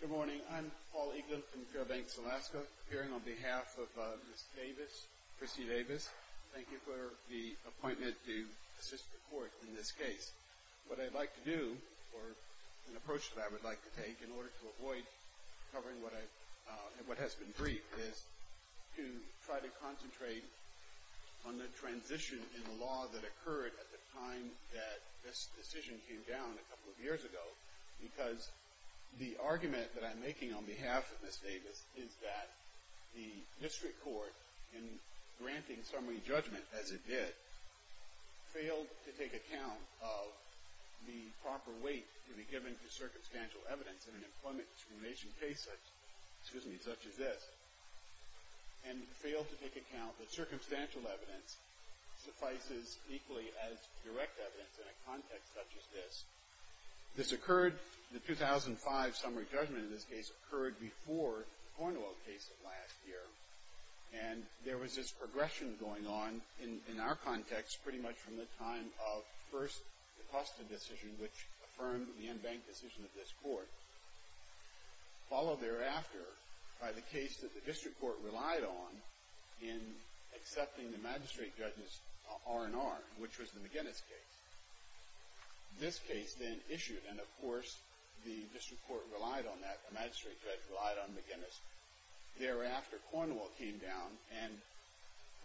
Good morning. I'm Paul Eaglin from Fairbanks, Alaska, appearing on behalf of Ms. Davis, Christy Davis. Thank you for the appointment to assist the court in this case. What I'd like to do, or an approach that I would like to take in order to avoid covering what has been briefed, is to try to concentrate on the transition in the law that occurred at the time that this decision came down a couple of years ago, because the argument that I'm making on behalf of Ms. Davis is that the district court, in granting summary judgment as it did, failed to take account of the proper weight to be given to circumstantial evidence in an employment discrimination case such as this, and failed to take account that circumstantial evidence suffices equally as direct evidence in a context such as this. This occurred, the 2005 summary judgment in this case, occurred before the Cornwall case of last year, and there was this progression going on in our context pretty much from the followed thereafter by the case that the district court relied on in accepting the magistrate judge's R&R, which was the McGinnis case. This case then issued, and of course, the district court relied on that, the magistrate judge relied on McGinnis. Thereafter, Cornwall came down, and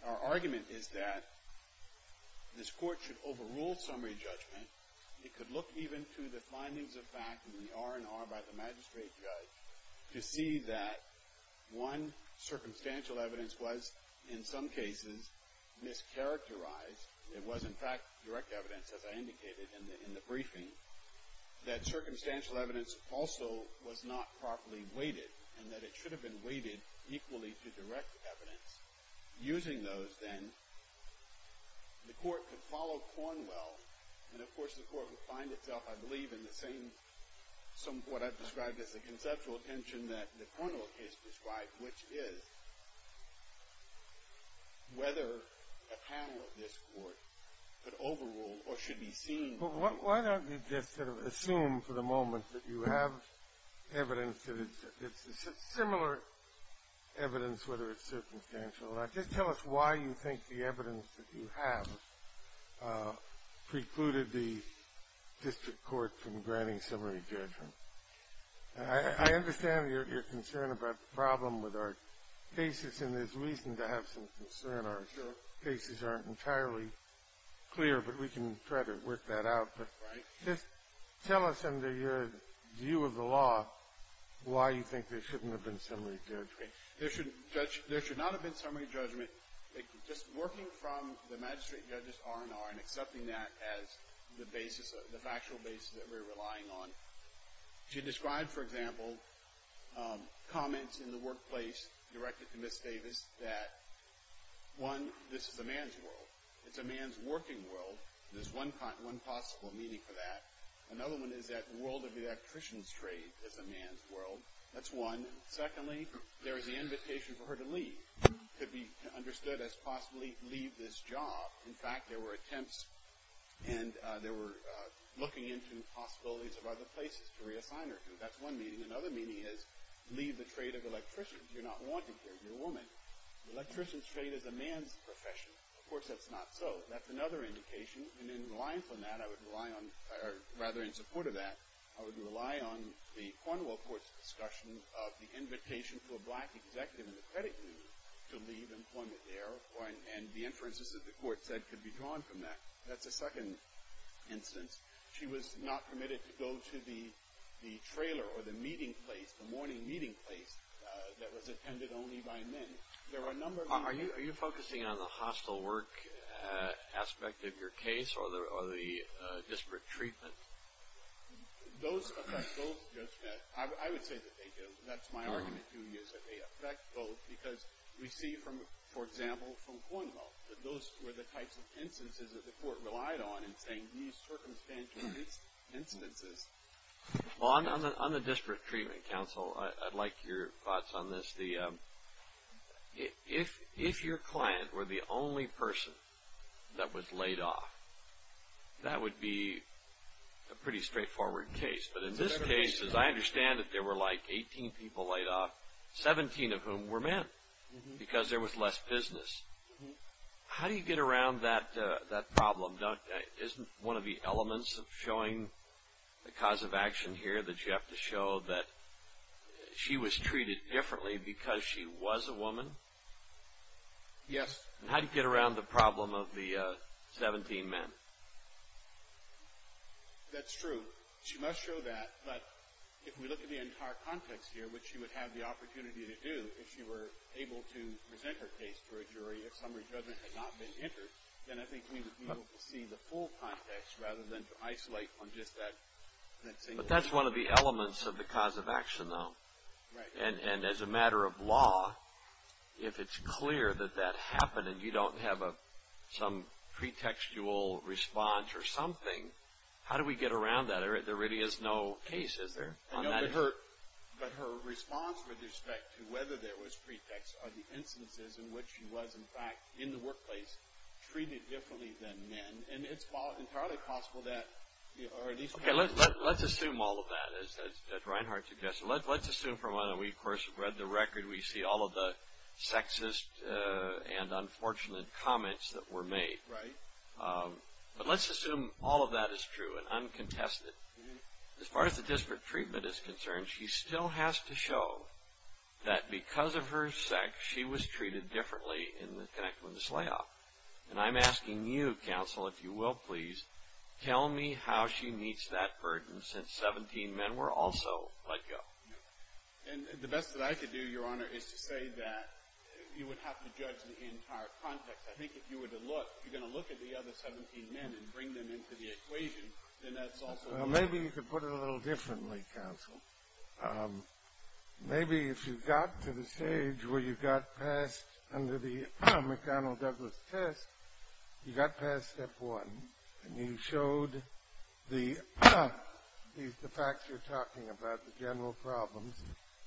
our argument is that this court should overrule summary judgment. It could look even to the findings of fact and the R&R by the magistrate judge to see that one, circumstantial evidence was, in some cases, mischaracterized. It was, in fact, direct evidence, as I indicated in the briefing, that circumstantial evidence also was not properly weighted, and that it should have been weighted equally to direct evidence. Using those, then, the court could follow Cornwall, and of course, the court would find itself, I believe, in the same, what I've described as the conceptual tension that the Cornwall case described, which is whether a panel of this court could overrule or should be seen to be overruled. But why don't you just sort of assume for the moment that you have evidence that it's a similar evidence, whether it's circumstantial. Just tell us why you think the evidence that you have precluded the district court from granting summary judgment. I understand your concern about the problem with our cases, and there's reason to have some concern. Our cases aren't entirely clear, but we can try to work that out. But just tell us, under your view of the law, why you think there shouldn't have been summary judgment. There should not have been summary judgment. Just working from the magistrate judges' R&R and accepting that as the basis, the factual basis that we're relying on. She described, for example, comments in the workplace directed to Ms. Davis that, one, this is a man's world. It's a man's working world. There's one possible meaning for that. Another one is that the world of electricians' trade is a man's world. That's one. Secondly, there is the invitation for her to leave, to be understood as possibly leave this job. In fact, there were attempts, and they were looking into possibilities of other places to reassign her to. That's one meaning. Another meaning is, leave the trade of electricians. You're not wanted here. You're a woman. Electricians' trade is a man's profession. Of course, that's not so. That's another indication. And in reliance on that, I would rely on, or rather in support of that, I would rely on the Cornwall Court's discussion of the invitation for a black executive in the credit union to leave employment there, and the inferences that the Court said could be drawn from that. That's a second instance. She was not permitted to go to the trailer or the meeting place, the morning meeting place, that was attended only by men. There were a number of... Are you focusing on the hostile work aspect of your case, or the disparate treatment? Those affect both. I would say that they do. That's my argument to you, is that they affect both, because we see, for example, from Cornwall, that those were the types of instances that the Court relied on in saying, these circumstantial instances... On the disparate treatment counsel, I'd like your thoughts on this. If your client were the only person that was laid off, that would be a pretty straightforward case. But in this case, as I understand it, there were like 18 people laid off, 17 of whom were men, because there was less business. How do you get around that problem? Isn't one of the elements of showing the cause of action here that you have to show that she was treated differently because she was a woman? Yes. How do you get around the problem of the 17 men? That's true. She must show that, but if we look at the entire context here, which she would have the opportunity to do, if she were able to present her case to a jury, if summary judgment had not been entered, then I think we would be able to see the full context rather than to isolate on just that single... But that's one of the elements of the cause of action, though. And as a matter of law, if it's clear that that happened and you don't have some pretextual response or something, how do we get around that? There really is no case, is there? No, but her response with respect to whether there was pretext are the instances in which she was, in fact, in the workplace treated differently than men. And it's entirely possible that... Okay, let's assume all of that, as Reinhart suggested. Let's assume from what we, of course, have read the record. We see all of the sexist and unfortunate comments that were made. Right. But let's assume all of that is true and uncontested. As far as the disparate treatment is concerned, she still has to show that because of her sex, she was treated differently in the connected women's layoff. And I'm asking you, counsel, if you will please, tell me how she meets that burden since 17 men were also let go. And the best that I could do, Your Honor, is to say that you would have to judge the entire context. I think if you were to look, if you're going to look at the other 17 men and bring them into the equation, then that's also... Well, maybe you could put it a little differently, counsel. Maybe if you got to the stage where you got passed under the McDonnell-Douglas test, you got past step one, and you showed the facts you're talking about, the general problems,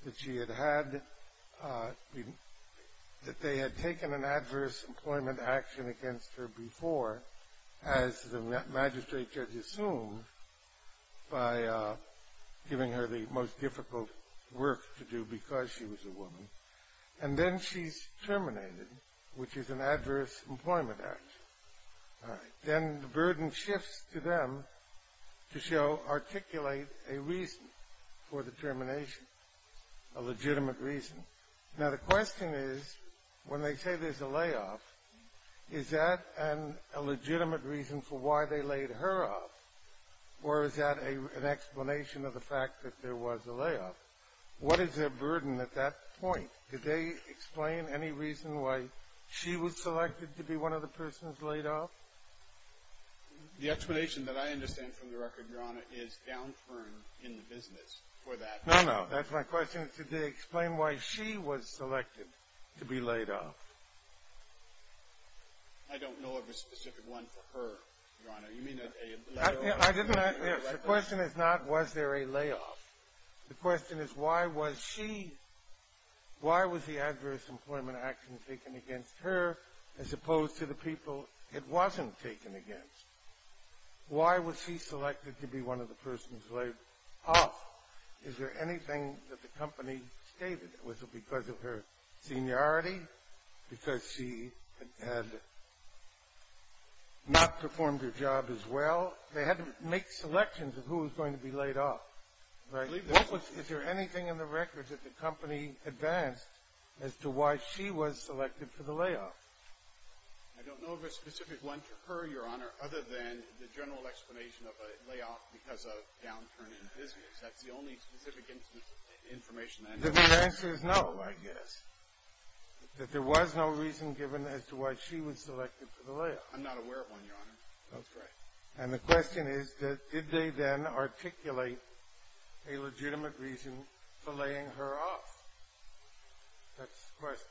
that she had had, that they had taken an adverse employment action against her before, as the magistrate judge assumed, by giving her the most difficult work to do because she was a woman. And then she's terminated, which is an adverse employment action. All right. Then the burden shifts to them to show, articulate a reason for the termination, a legitimate reason. Now, the question is, when they say there's a layoff, is that a legitimate reason for why they laid her off? Or is that an explanation of the fact that there was a layoff? What is their burden at that point? Did they explain any reason why she was selected to be one of the persons laid off? The explanation that I understand from the record, Your Honor, is downturn in the business for that. No, no. That's my question. Did they explain why she was selected to be laid off? I don't know of a specific one for her, Your Honor. You mean a layoff? The question is not, was there a layoff. The question is, why was she, why was the adverse employment action taken against her, as opposed to the people it wasn't taken against? Why was she selected to be one of the persons laid off? Is there anything that the company stated? Was it because of her seniority, because she had not performed her job as well? They had to make selections of who was going to be laid off, right? Is there anything in the record that the company advanced as to why she was selected for the layoff? I don't know of a specific one for her, Your Honor, other than the general explanation of a layoff because of downturn in business. That's the only specific information that I have. The answer is no, I guess, that there was no reason given as to why she was selected for the layoff. I'm not aware of one, Your Honor. That's correct. And the question is, did they then articulate a legitimate reason for laying her off? That's the question.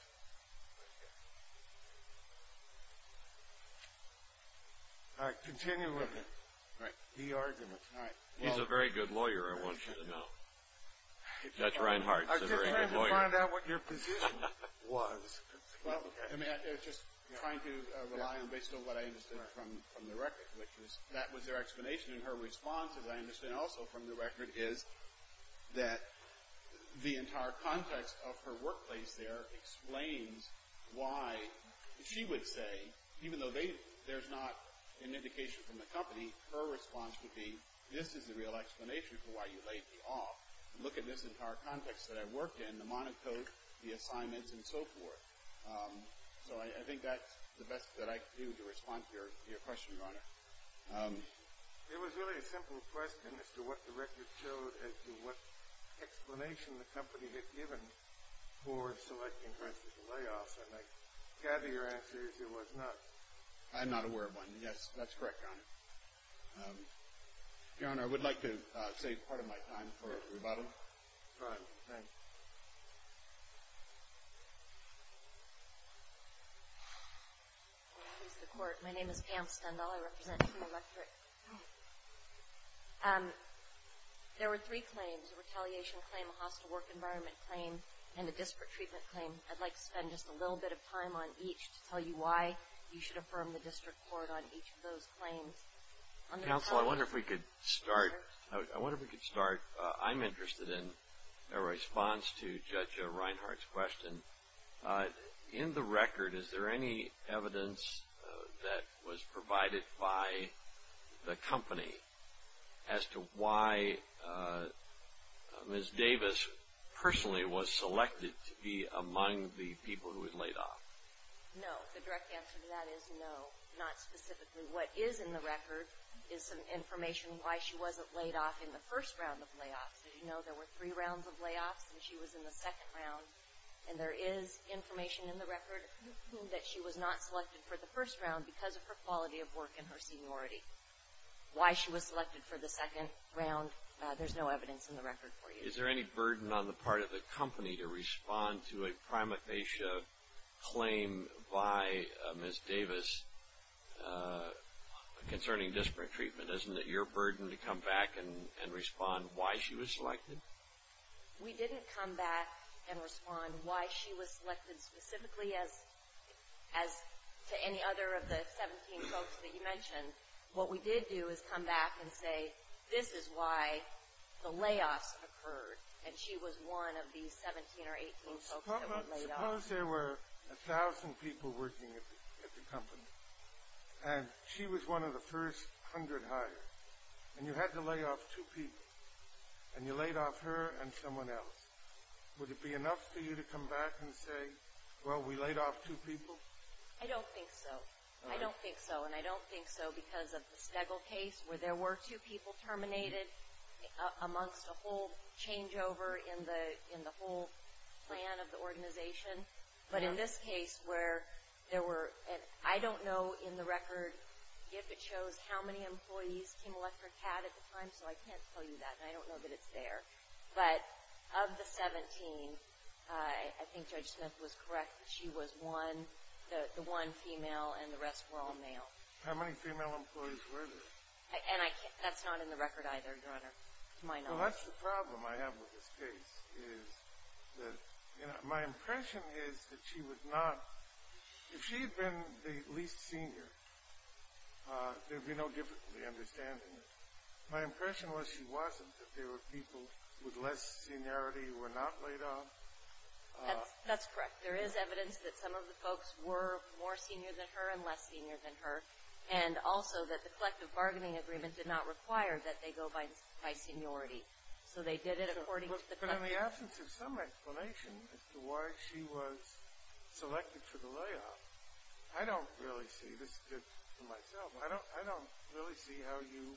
All right, continue with the argument. He's a very good lawyer, I want you to know. Judge Reinhart is a very good lawyer. I was just trying to find out what your position was. I was just trying to rely on, based on what I understood from the record, which is that was their explanation, and her response, as I understand also from the record, is that the entire context of her workplace there explains why she would say, even though there's not an indication from the company, her response would be, this is the real explanation for why you laid me off. Look at this entire context that I worked in, the monotone, the assignments, and so forth. So I think that's the best that I could do to respond to your question, Your Honor. It was really a simple question as to what the record showed, as to what explanation the company had given for selecting her as the layoff. And I gather your answer is it was not. I'm not aware of one. Yes, that's correct, Your Honor. Your Honor, I would like to save part of my time for rebuttal. All right, thank you. My name is Pam Stendhal. I represent Electric. There were three claims, a retaliation claim, a hostile work environment claim, and a disparate treatment claim. I'd like to spend just a little bit of time on each to tell you why you should affirm the district court on each of those claims. Counsel, I wonder if we could start. I wonder if we could start. Your Honor, I'm interested in a response to Judge Reinhart's question. In the record, is there any evidence that was provided by the company as to why Ms. Davis personally was selected to be among the people who were laid off? No. The direct answer to that is no, not specifically. What is in the record is some information why she wasn't laid off in the first round of layoffs. As you know, there were three rounds of layoffs, and she was in the second round. And there is information in the record that she was not selected for the first round because of her quality of work and her seniority. Why she was selected for the second round, there's no evidence in the record for you. Is there any burden on the part of the company to respond to a prima facie claim by Ms. Davis concerning district treatment? Isn't it your burden to come back and respond why she was selected? We didn't come back and respond why she was selected specifically, as to any other of the 17 folks that you mentioned. What we did do is come back and say, this is why the layoffs occurred, and she was one of these 17 or 18 folks that we laid off. Suppose there were 1,000 people working at the company, and she was one of the first 100 hired, and you had to lay off two people, and you laid off her and someone else. Would it be enough for you to come back and say, well, we laid off two people? I don't think so. I don't think so. And I don't think so because of the Stegall case where there were two people terminated amongst a whole changeover in the whole plan of the organization. But in this case where there were, and I don't know in the record if it shows how many employees Kim Electric had at the time, so I can't tell you that, and I don't know that it's there. But of the 17, I think Judge Smith was correct. She was one, the one female, and the rest were all male. How many female employees were there? And that's not in the record either, Your Honor, to my knowledge. Well, that's the problem I have with this case is that my impression is that she would not, if she had been the least senior, there would be no difficulty understanding it. My impression was she wasn't, that there were people with less seniority who were not laid off. That's correct. There is evidence that some of the folks were more senior than her and less senior than her, and also that the collective bargaining agreement did not require that they go by seniority. So they did it according to the collective. But in the absence of some explanation as to why she was selected for the layoff, I don't really see, this is good for myself, I don't really see how you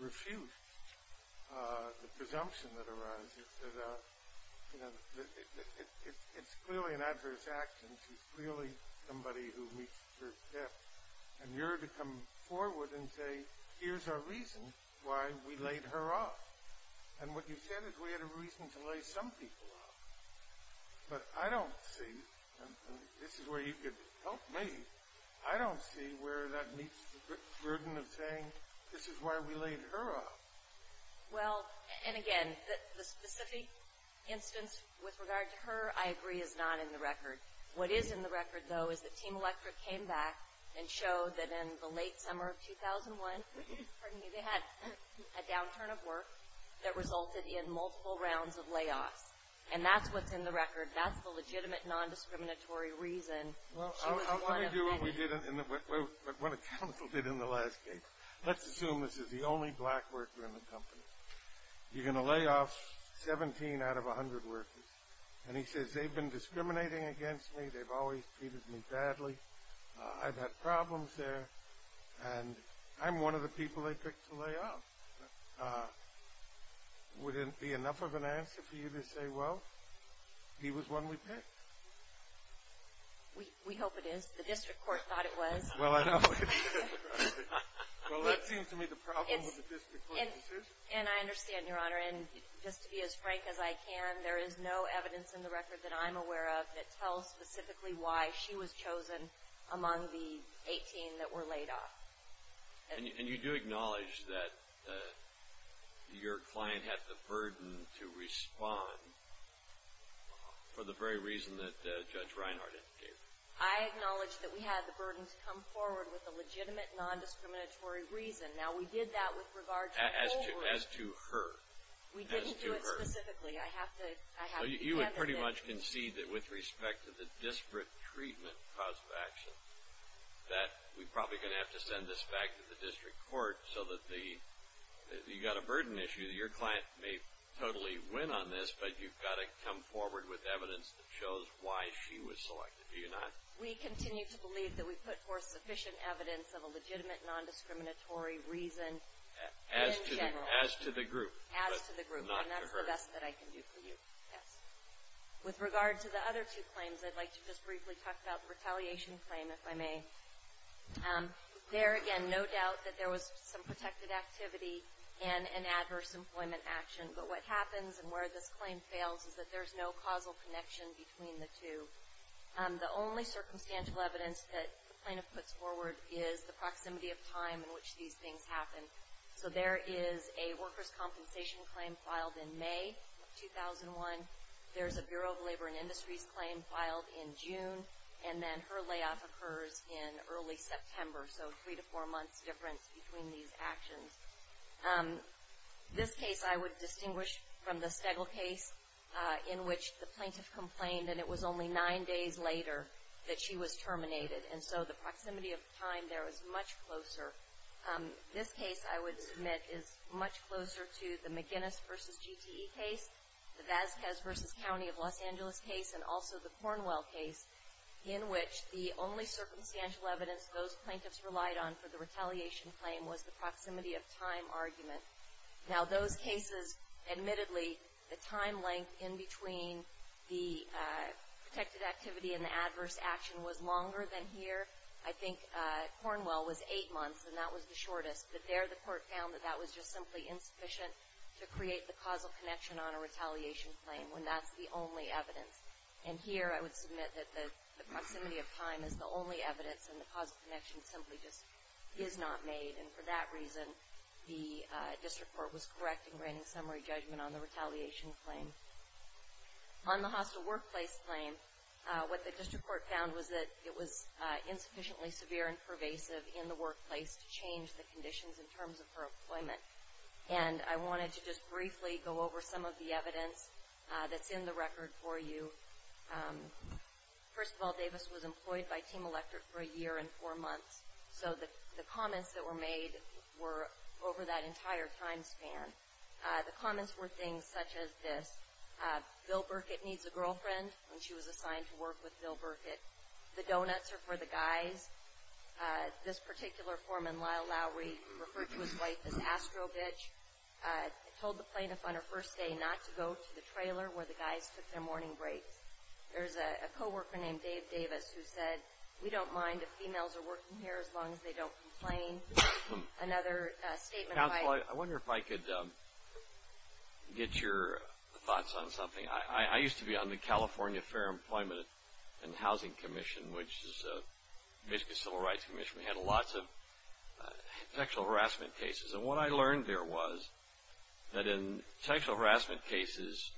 refuse the presumption that arises that it's clearly an adverse action, she's clearly somebody who meets her death, and you're to come forward and say, here's our reason why we laid her off. And what you said is we had a reason to lay some people off. But I don't see, and this is where you could help me, I don't see where that meets the burden of saying this is why we laid her off. Well, and again, the specific instance with regard to her, I agree, is not in the record. What is in the record, though, is that Team Electric came back and showed that in the late summer of 2001, they had a downturn of work that resulted in multiple rounds of layoffs. And that's what's in the record. That's the legitimate non-discriminatory reason she was one of many. Well, I'll tell you what we did, what the council did in the last case. Let's assume this is the only black worker in the company. You're going to lay off 17 out of 100 workers. And he says, they've been discriminating against me, they've always treated me badly, I've had problems there, and I'm one of the people they picked to lay off. Wouldn't it be enough of an answer for you to say, well, he was one we picked? We hope it is. The district court thought it was. Well, I know. Well, that seems to me the problem with the district court's decision. And I understand, Your Honor, and just to be as frank as I can, there is no evidence in the record that I'm aware of that tells specifically why she was chosen among the 18 that were laid off. And you do acknowledge that your client had the burden to respond for the very reason that Judge Reinhart indicated? I acknowledge that we had the burden to come forward with a legitimate non-discriminatory reason. Now, we did that with regard to her. As to her. We didn't do it specifically. I have to hand it in. Well, you would pretty much concede that with respect to the disparate treatment cause of action, that we're probably going to have to send this back to the district court so that the – you've got a burden issue. Your client may totally win on this, but you've got to come forward with evidence that shows why she was selected, do you not? We continue to believe that we put forth sufficient evidence of a legitimate non-discriminatory reason in general. As to the group. And that's the best that I can do for you. Yes. With regard to the other two claims, I'd like to just briefly talk about the retaliation claim, if I may. There, again, no doubt that there was some protected activity and an adverse employment action. But what happens and where this claim fails is that there's no causal connection between the two. The only circumstantial evidence that the plaintiff puts forward is the proximity of time in which these things happen. So there is a workers' compensation claim filed in May of 2001. There's a Bureau of Labor and Industries claim filed in June. And then her layoff occurs in early September. So three to four months difference between these actions. This case, I would distinguish from the Stegel case in which the plaintiff complained that it was only nine days later that she was terminated. And so the proximity of time there is much closer. This case, I would submit, is much closer to the McGinnis v. GTE case, the Vasquez v. County of Los Angeles case, and also the Cornwell case, in which the only circumstantial evidence those plaintiffs relied on for the retaliation claim was the proximity of time argument. Now, those cases, admittedly, the time length in between the protected activity and the adverse action was longer than here. I think Cornwell was eight months, and that was the shortest. But there the court found that that was just simply insufficient to create the causal connection on a retaliation claim when that's the only evidence. And here I would submit that the proximity of time is the only evidence and the causal connection simply just is not made. And for that reason, the district court was correct in granting summary judgment on the retaliation claim. On the hostile workplace claim, what the district court found was that it was insufficiently severe and pervasive in the workplace to change the conditions in terms of her employment. And I wanted to just briefly go over some of the evidence that's in the record for you. First of all, Davis was employed by Team Electric for a year and four months. So the comments that were made were over that entire time span. The comments were things such as this. Bill Burkett needs a girlfriend, and she was assigned to work with Bill Burkett. The donuts are for the guys. This particular foreman, Lyle Lowry, referred to his wife as astro-bitch, told the plaintiff on her first day not to go to the trailer where the guys took their morning breaks. There's a coworker named Dave Davis who said, we don't mind if females are working here as long as they don't complain. Another statement. Counsel, I wonder if I could get your thoughts on something. I used to be on the California Fair Employment and Housing Commission, which is basically a civil rights commission. We had lots of sexual harassment cases. And what I learned there was that in sexual harassment cases,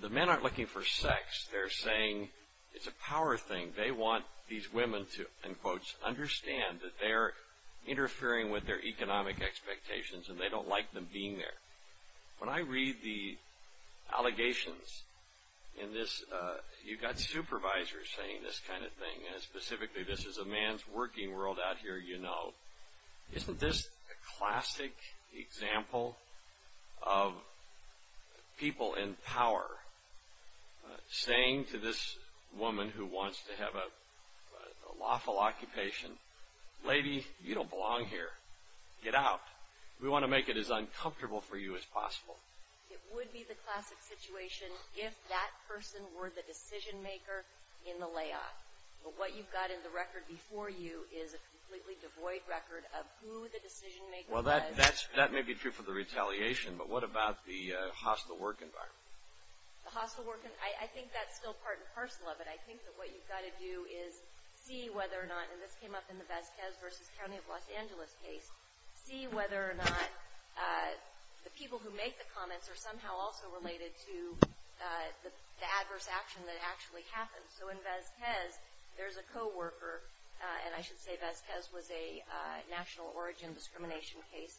the men aren't looking for sex. They're saying it's a power thing. They want these women to, in quotes, understand that they're interfering with their economic expectations, and they don't like them being there. When I read the allegations in this, you've got supervisors saying this kind of thing, and specifically this is a man's working world out here, you know. Isn't this a classic example of people in power saying to this woman who wants to have a lawful occupation, lady, you don't belong here. Get out. We want to make it as uncomfortable for you as possible. It would be the classic situation if that person were the decision maker in the layoff. But what you've got in the record before you is a completely devoid record of who the decision maker was. Well, that may be true for the retaliation, but what about the hostile work environment? The hostile work environment, I think that's still part and parcel of it. I think that what you've got to do is see whether or not, and this came up in the Vazquez v. County of Los Angeles case, see whether or not the people who make the comments are somehow also related to the adverse action that actually happened. So in Vazquez, there's a co-worker, and I should say Vazquez was a national origin discrimination case,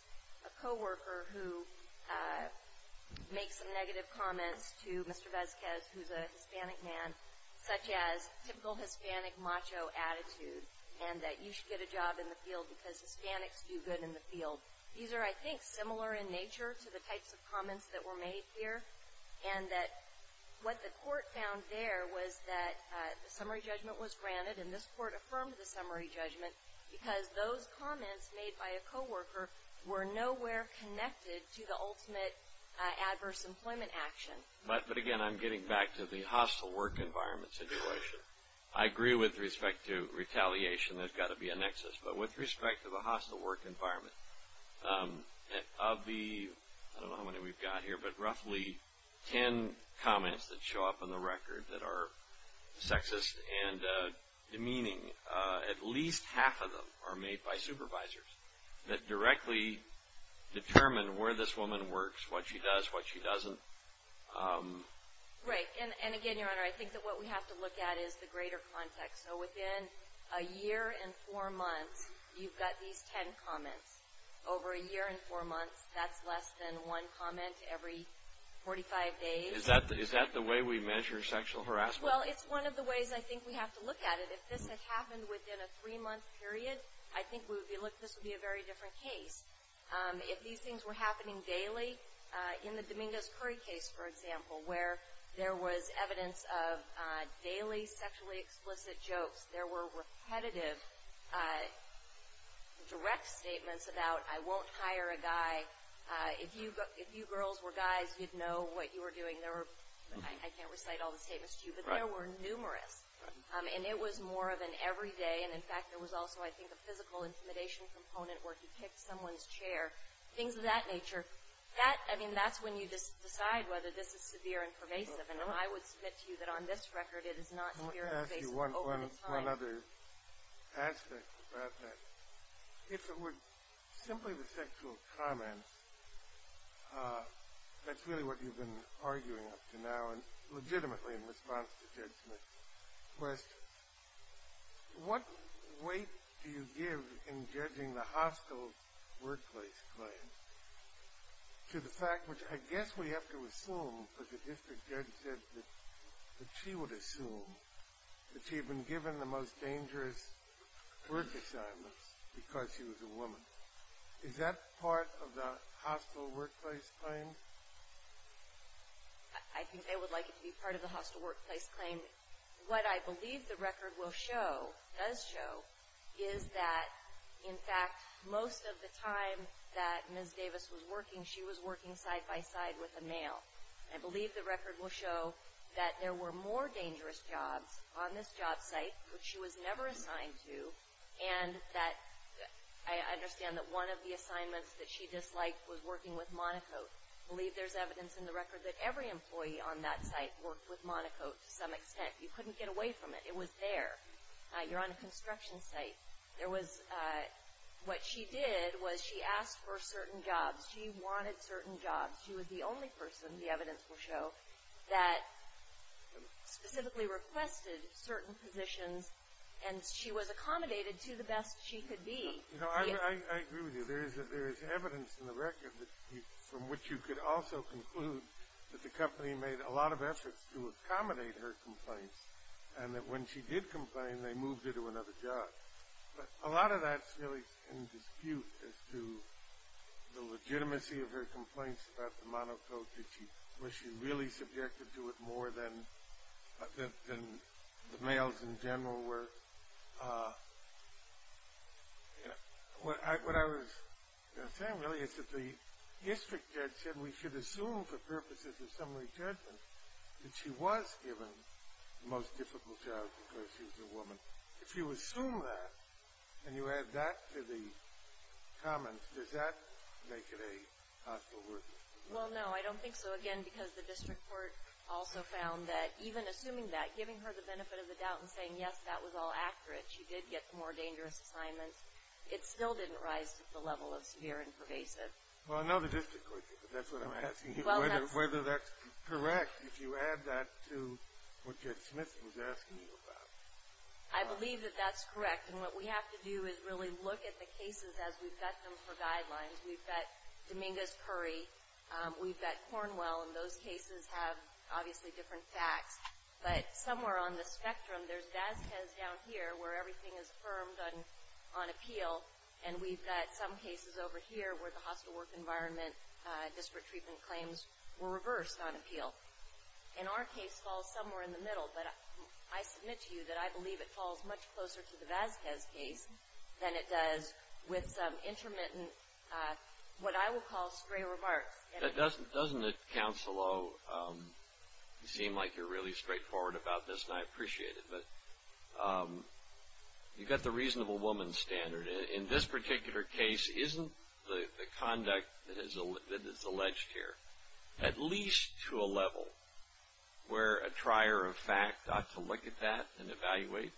a co-worker who makes some negative comments to Mr. Vazquez, who's a Hispanic man, such as typical Hispanic macho attitude and that you should get a job in the field because Hispanics do good in the field. These are, I think, similar in nature to the types of comments that were made here and that what the court found there was that the summary judgment was granted, and this court affirmed the summary judgment because those comments made by a co-worker were nowhere connected to the ultimate adverse employment action. But again, I'm getting back to the hostile work environment situation. I agree with respect to retaliation, there's got to be a nexus, but with respect to the hostile work environment, of the, I don't know how many we've got here, but roughly 10 comments that show up on the record that are sexist and demeaning, at least half of them are made by supervisors that directly determine where this woman works, what she does, what she doesn't. Right, and again, Your Honor, I think that what we have to look at is the greater context. So within a year and four months, you've got these 10 comments. Over a year and four months, that's less than one comment every 45 days. Is that the way we measure sexual harassment? Well, it's one of the ways I think we have to look at it. If this had happened within a three-month period, I think this would be a very different case. If these things were happening daily, in the Dominguez-Curry case, for example, where there was evidence of daily sexually explicit jokes, there were repetitive direct statements about, I won't hire a guy. If you girls were guys, you'd know what you were doing. I can't recite all the statements to you, but there were numerous, and it was more of an everyday. And, in fact, there was also, I think, a physical intimidation component where he kicked someone's chair, things of that nature. I mean, that's when you decide whether this is severe and pervasive. And I would submit to you that on this record, it is not severe and pervasive. Let me ask you one other aspect about that. If it were simply the sexual comments, that's really what you've been arguing up to now, and legitimately in response to Judge Smith's questions. What weight do you give in judging the hostile workplace claim to the fact, which I guess we have to assume because the district judge said that she would assume that she had been given the most dangerous work assignments because she was a woman. Is that part of the hostile workplace claim? I think they would like it to be part of the hostile workplace claim. And what I believe the record will show, does show, is that, in fact, most of the time that Ms. Davis was working, she was working side by side with a male. I believe the record will show that there were more dangerous jobs on this job site, which she was never assigned to, and that I understand that one of the assignments that she disliked was working with Monocote. I believe there's evidence in the record that every employee on that site worked with Monocote to some extent. You couldn't get away from it. It was there. You're on a construction site. What she did was she asked for certain jobs. She wanted certain jobs. She was the only person, the evidence will show, that specifically requested certain positions, and she was accommodated to the best she could be. I agree with you. There is evidence in the record from which you could also conclude that the company made a lot of efforts to accommodate her complaints, and that when she did complain, they moved her to another job. But a lot of that's really in dispute as to the legitimacy of her complaints about the Monocote. Was she really subjected to it more than the males in general were? What I was saying really is that the district judge said we should assume for purposes of summary judgment that she was given the most difficult job because she was a woman. If you assume that and you add that to the comments, does that make it a hostile worker? Well, no, I don't think so, again, because the district court also found that even assuming that, giving her the benefit of the doubt and saying, yes, that was all accurate, she did get more dangerous assignments, it still didn't rise to the level of severe and pervasive. Well, I know the district court did, but that's what I'm asking you, whether that's correct, if you add that to what Judge Smith was asking you about. I believe that that's correct. And what we have to do is really look at the cases as we've got them for guidelines. We've got Dominguez-Curry, we've got Cornwell, and those cases have obviously different facts. But somewhere on the spectrum, there's Vasquez down here where everything is firmed on appeal, and we've got some cases over here where the hostile work environment district treatment claims were reversed on appeal. And our case falls somewhere in the middle. But I submit to you that I believe it falls much closer to the Vasquez case than it does with some intermittent, what I will call stray remarks. Doesn't it, Counselor, seem like you're really straightforward about this, and I appreciate it, but you've got the reasonable woman standard. In this particular case, isn't the conduct that is alleged here at least to a level where a trier of fact ought to look at that and evaluate?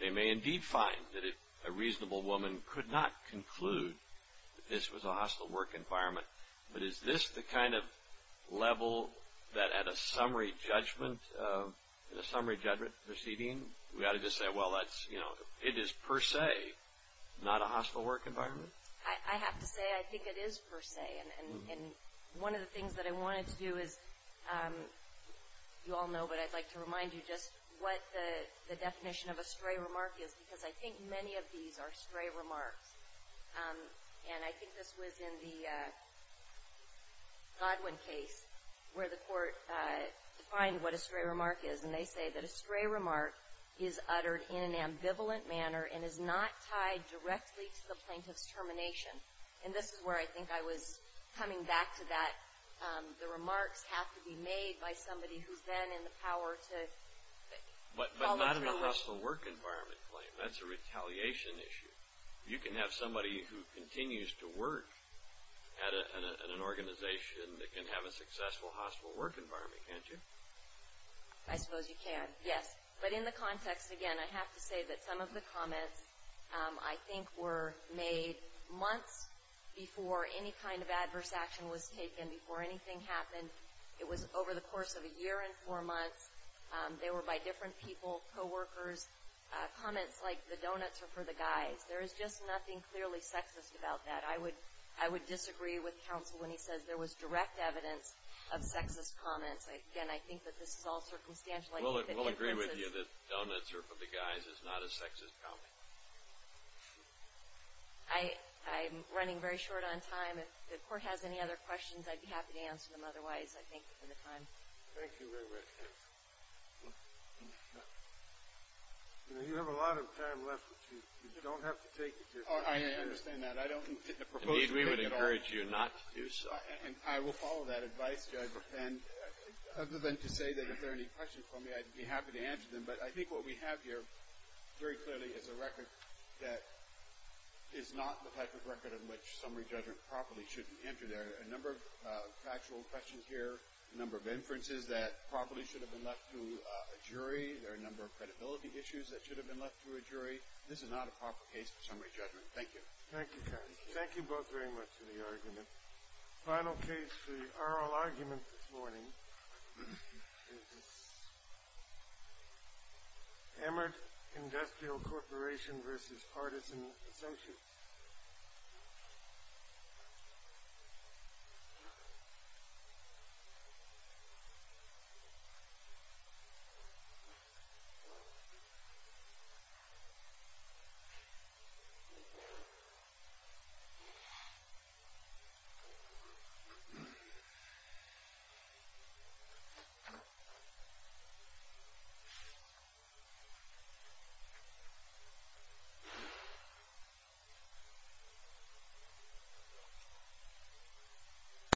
They may indeed find that a reasonable woman could not conclude that this was a hostile work environment, but is this the kind of level that at a summary judgment proceeding, we ought to just say, well, that's, you know, it is per se not a hostile work environment? I have to say I think it is per se. And one of the things that I wanted to do is, you all know, but I'd like to remind you just what the definition of a stray remark is because I think many of these are stray remarks. And I think this was in the Godwin case where the court defined what a stray remark is, and they say that a stray remark is uttered in an ambivalent manner and is not tied directly to the plaintiff's termination. And this is where I think I was coming back to that. The remarks have to be made by somebody who's then in the power to follow through. But not in a hostile work environment claim. That's a retaliation issue. You can have somebody who continues to work at an organization that can have a successful hostile work environment, can't you? I suppose you can, yes. But in the context, again, I have to say that some of the comments, I think, were made months before any kind of adverse action was taken, before anything happened. It was over the course of a year and four months. They were by different people, coworkers, comments like the donuts are for the guys. There is just nothing clearly sexist about that. I would disagree with counsel when he says there was direct evidence of sexist comments. Again, I think that this is all circumstantial. We'll agree with you that donuts are for the guys is not a sexist comment. I'm running very short on time. If the court has any other questions, I'd be happy to answer them otherwise, I think, for the time. Thank you very much. You have a lot of time left, but you don't have to take it. I understand that. Indeed, we would encourage you not to do so. And I will follow that advice, Judge. And other than to say that if there are any questions for me, I'd be happy to answer them. But I think what we have here very clearly is a record that is not the type of record in which summary judgment properly should enter there. There are a number of factual questions here, a number of inferences that probably should have been left to a jury. There are a number of credibility issues that should have been left to a jury. This is not a proper case for summary judgment. Thank you. Thank you, counsel. Thank you both very much for the argument. The final case for the oral argument this morning is Emmerd Industrial Corporation v. Partisan Associates. Thank you.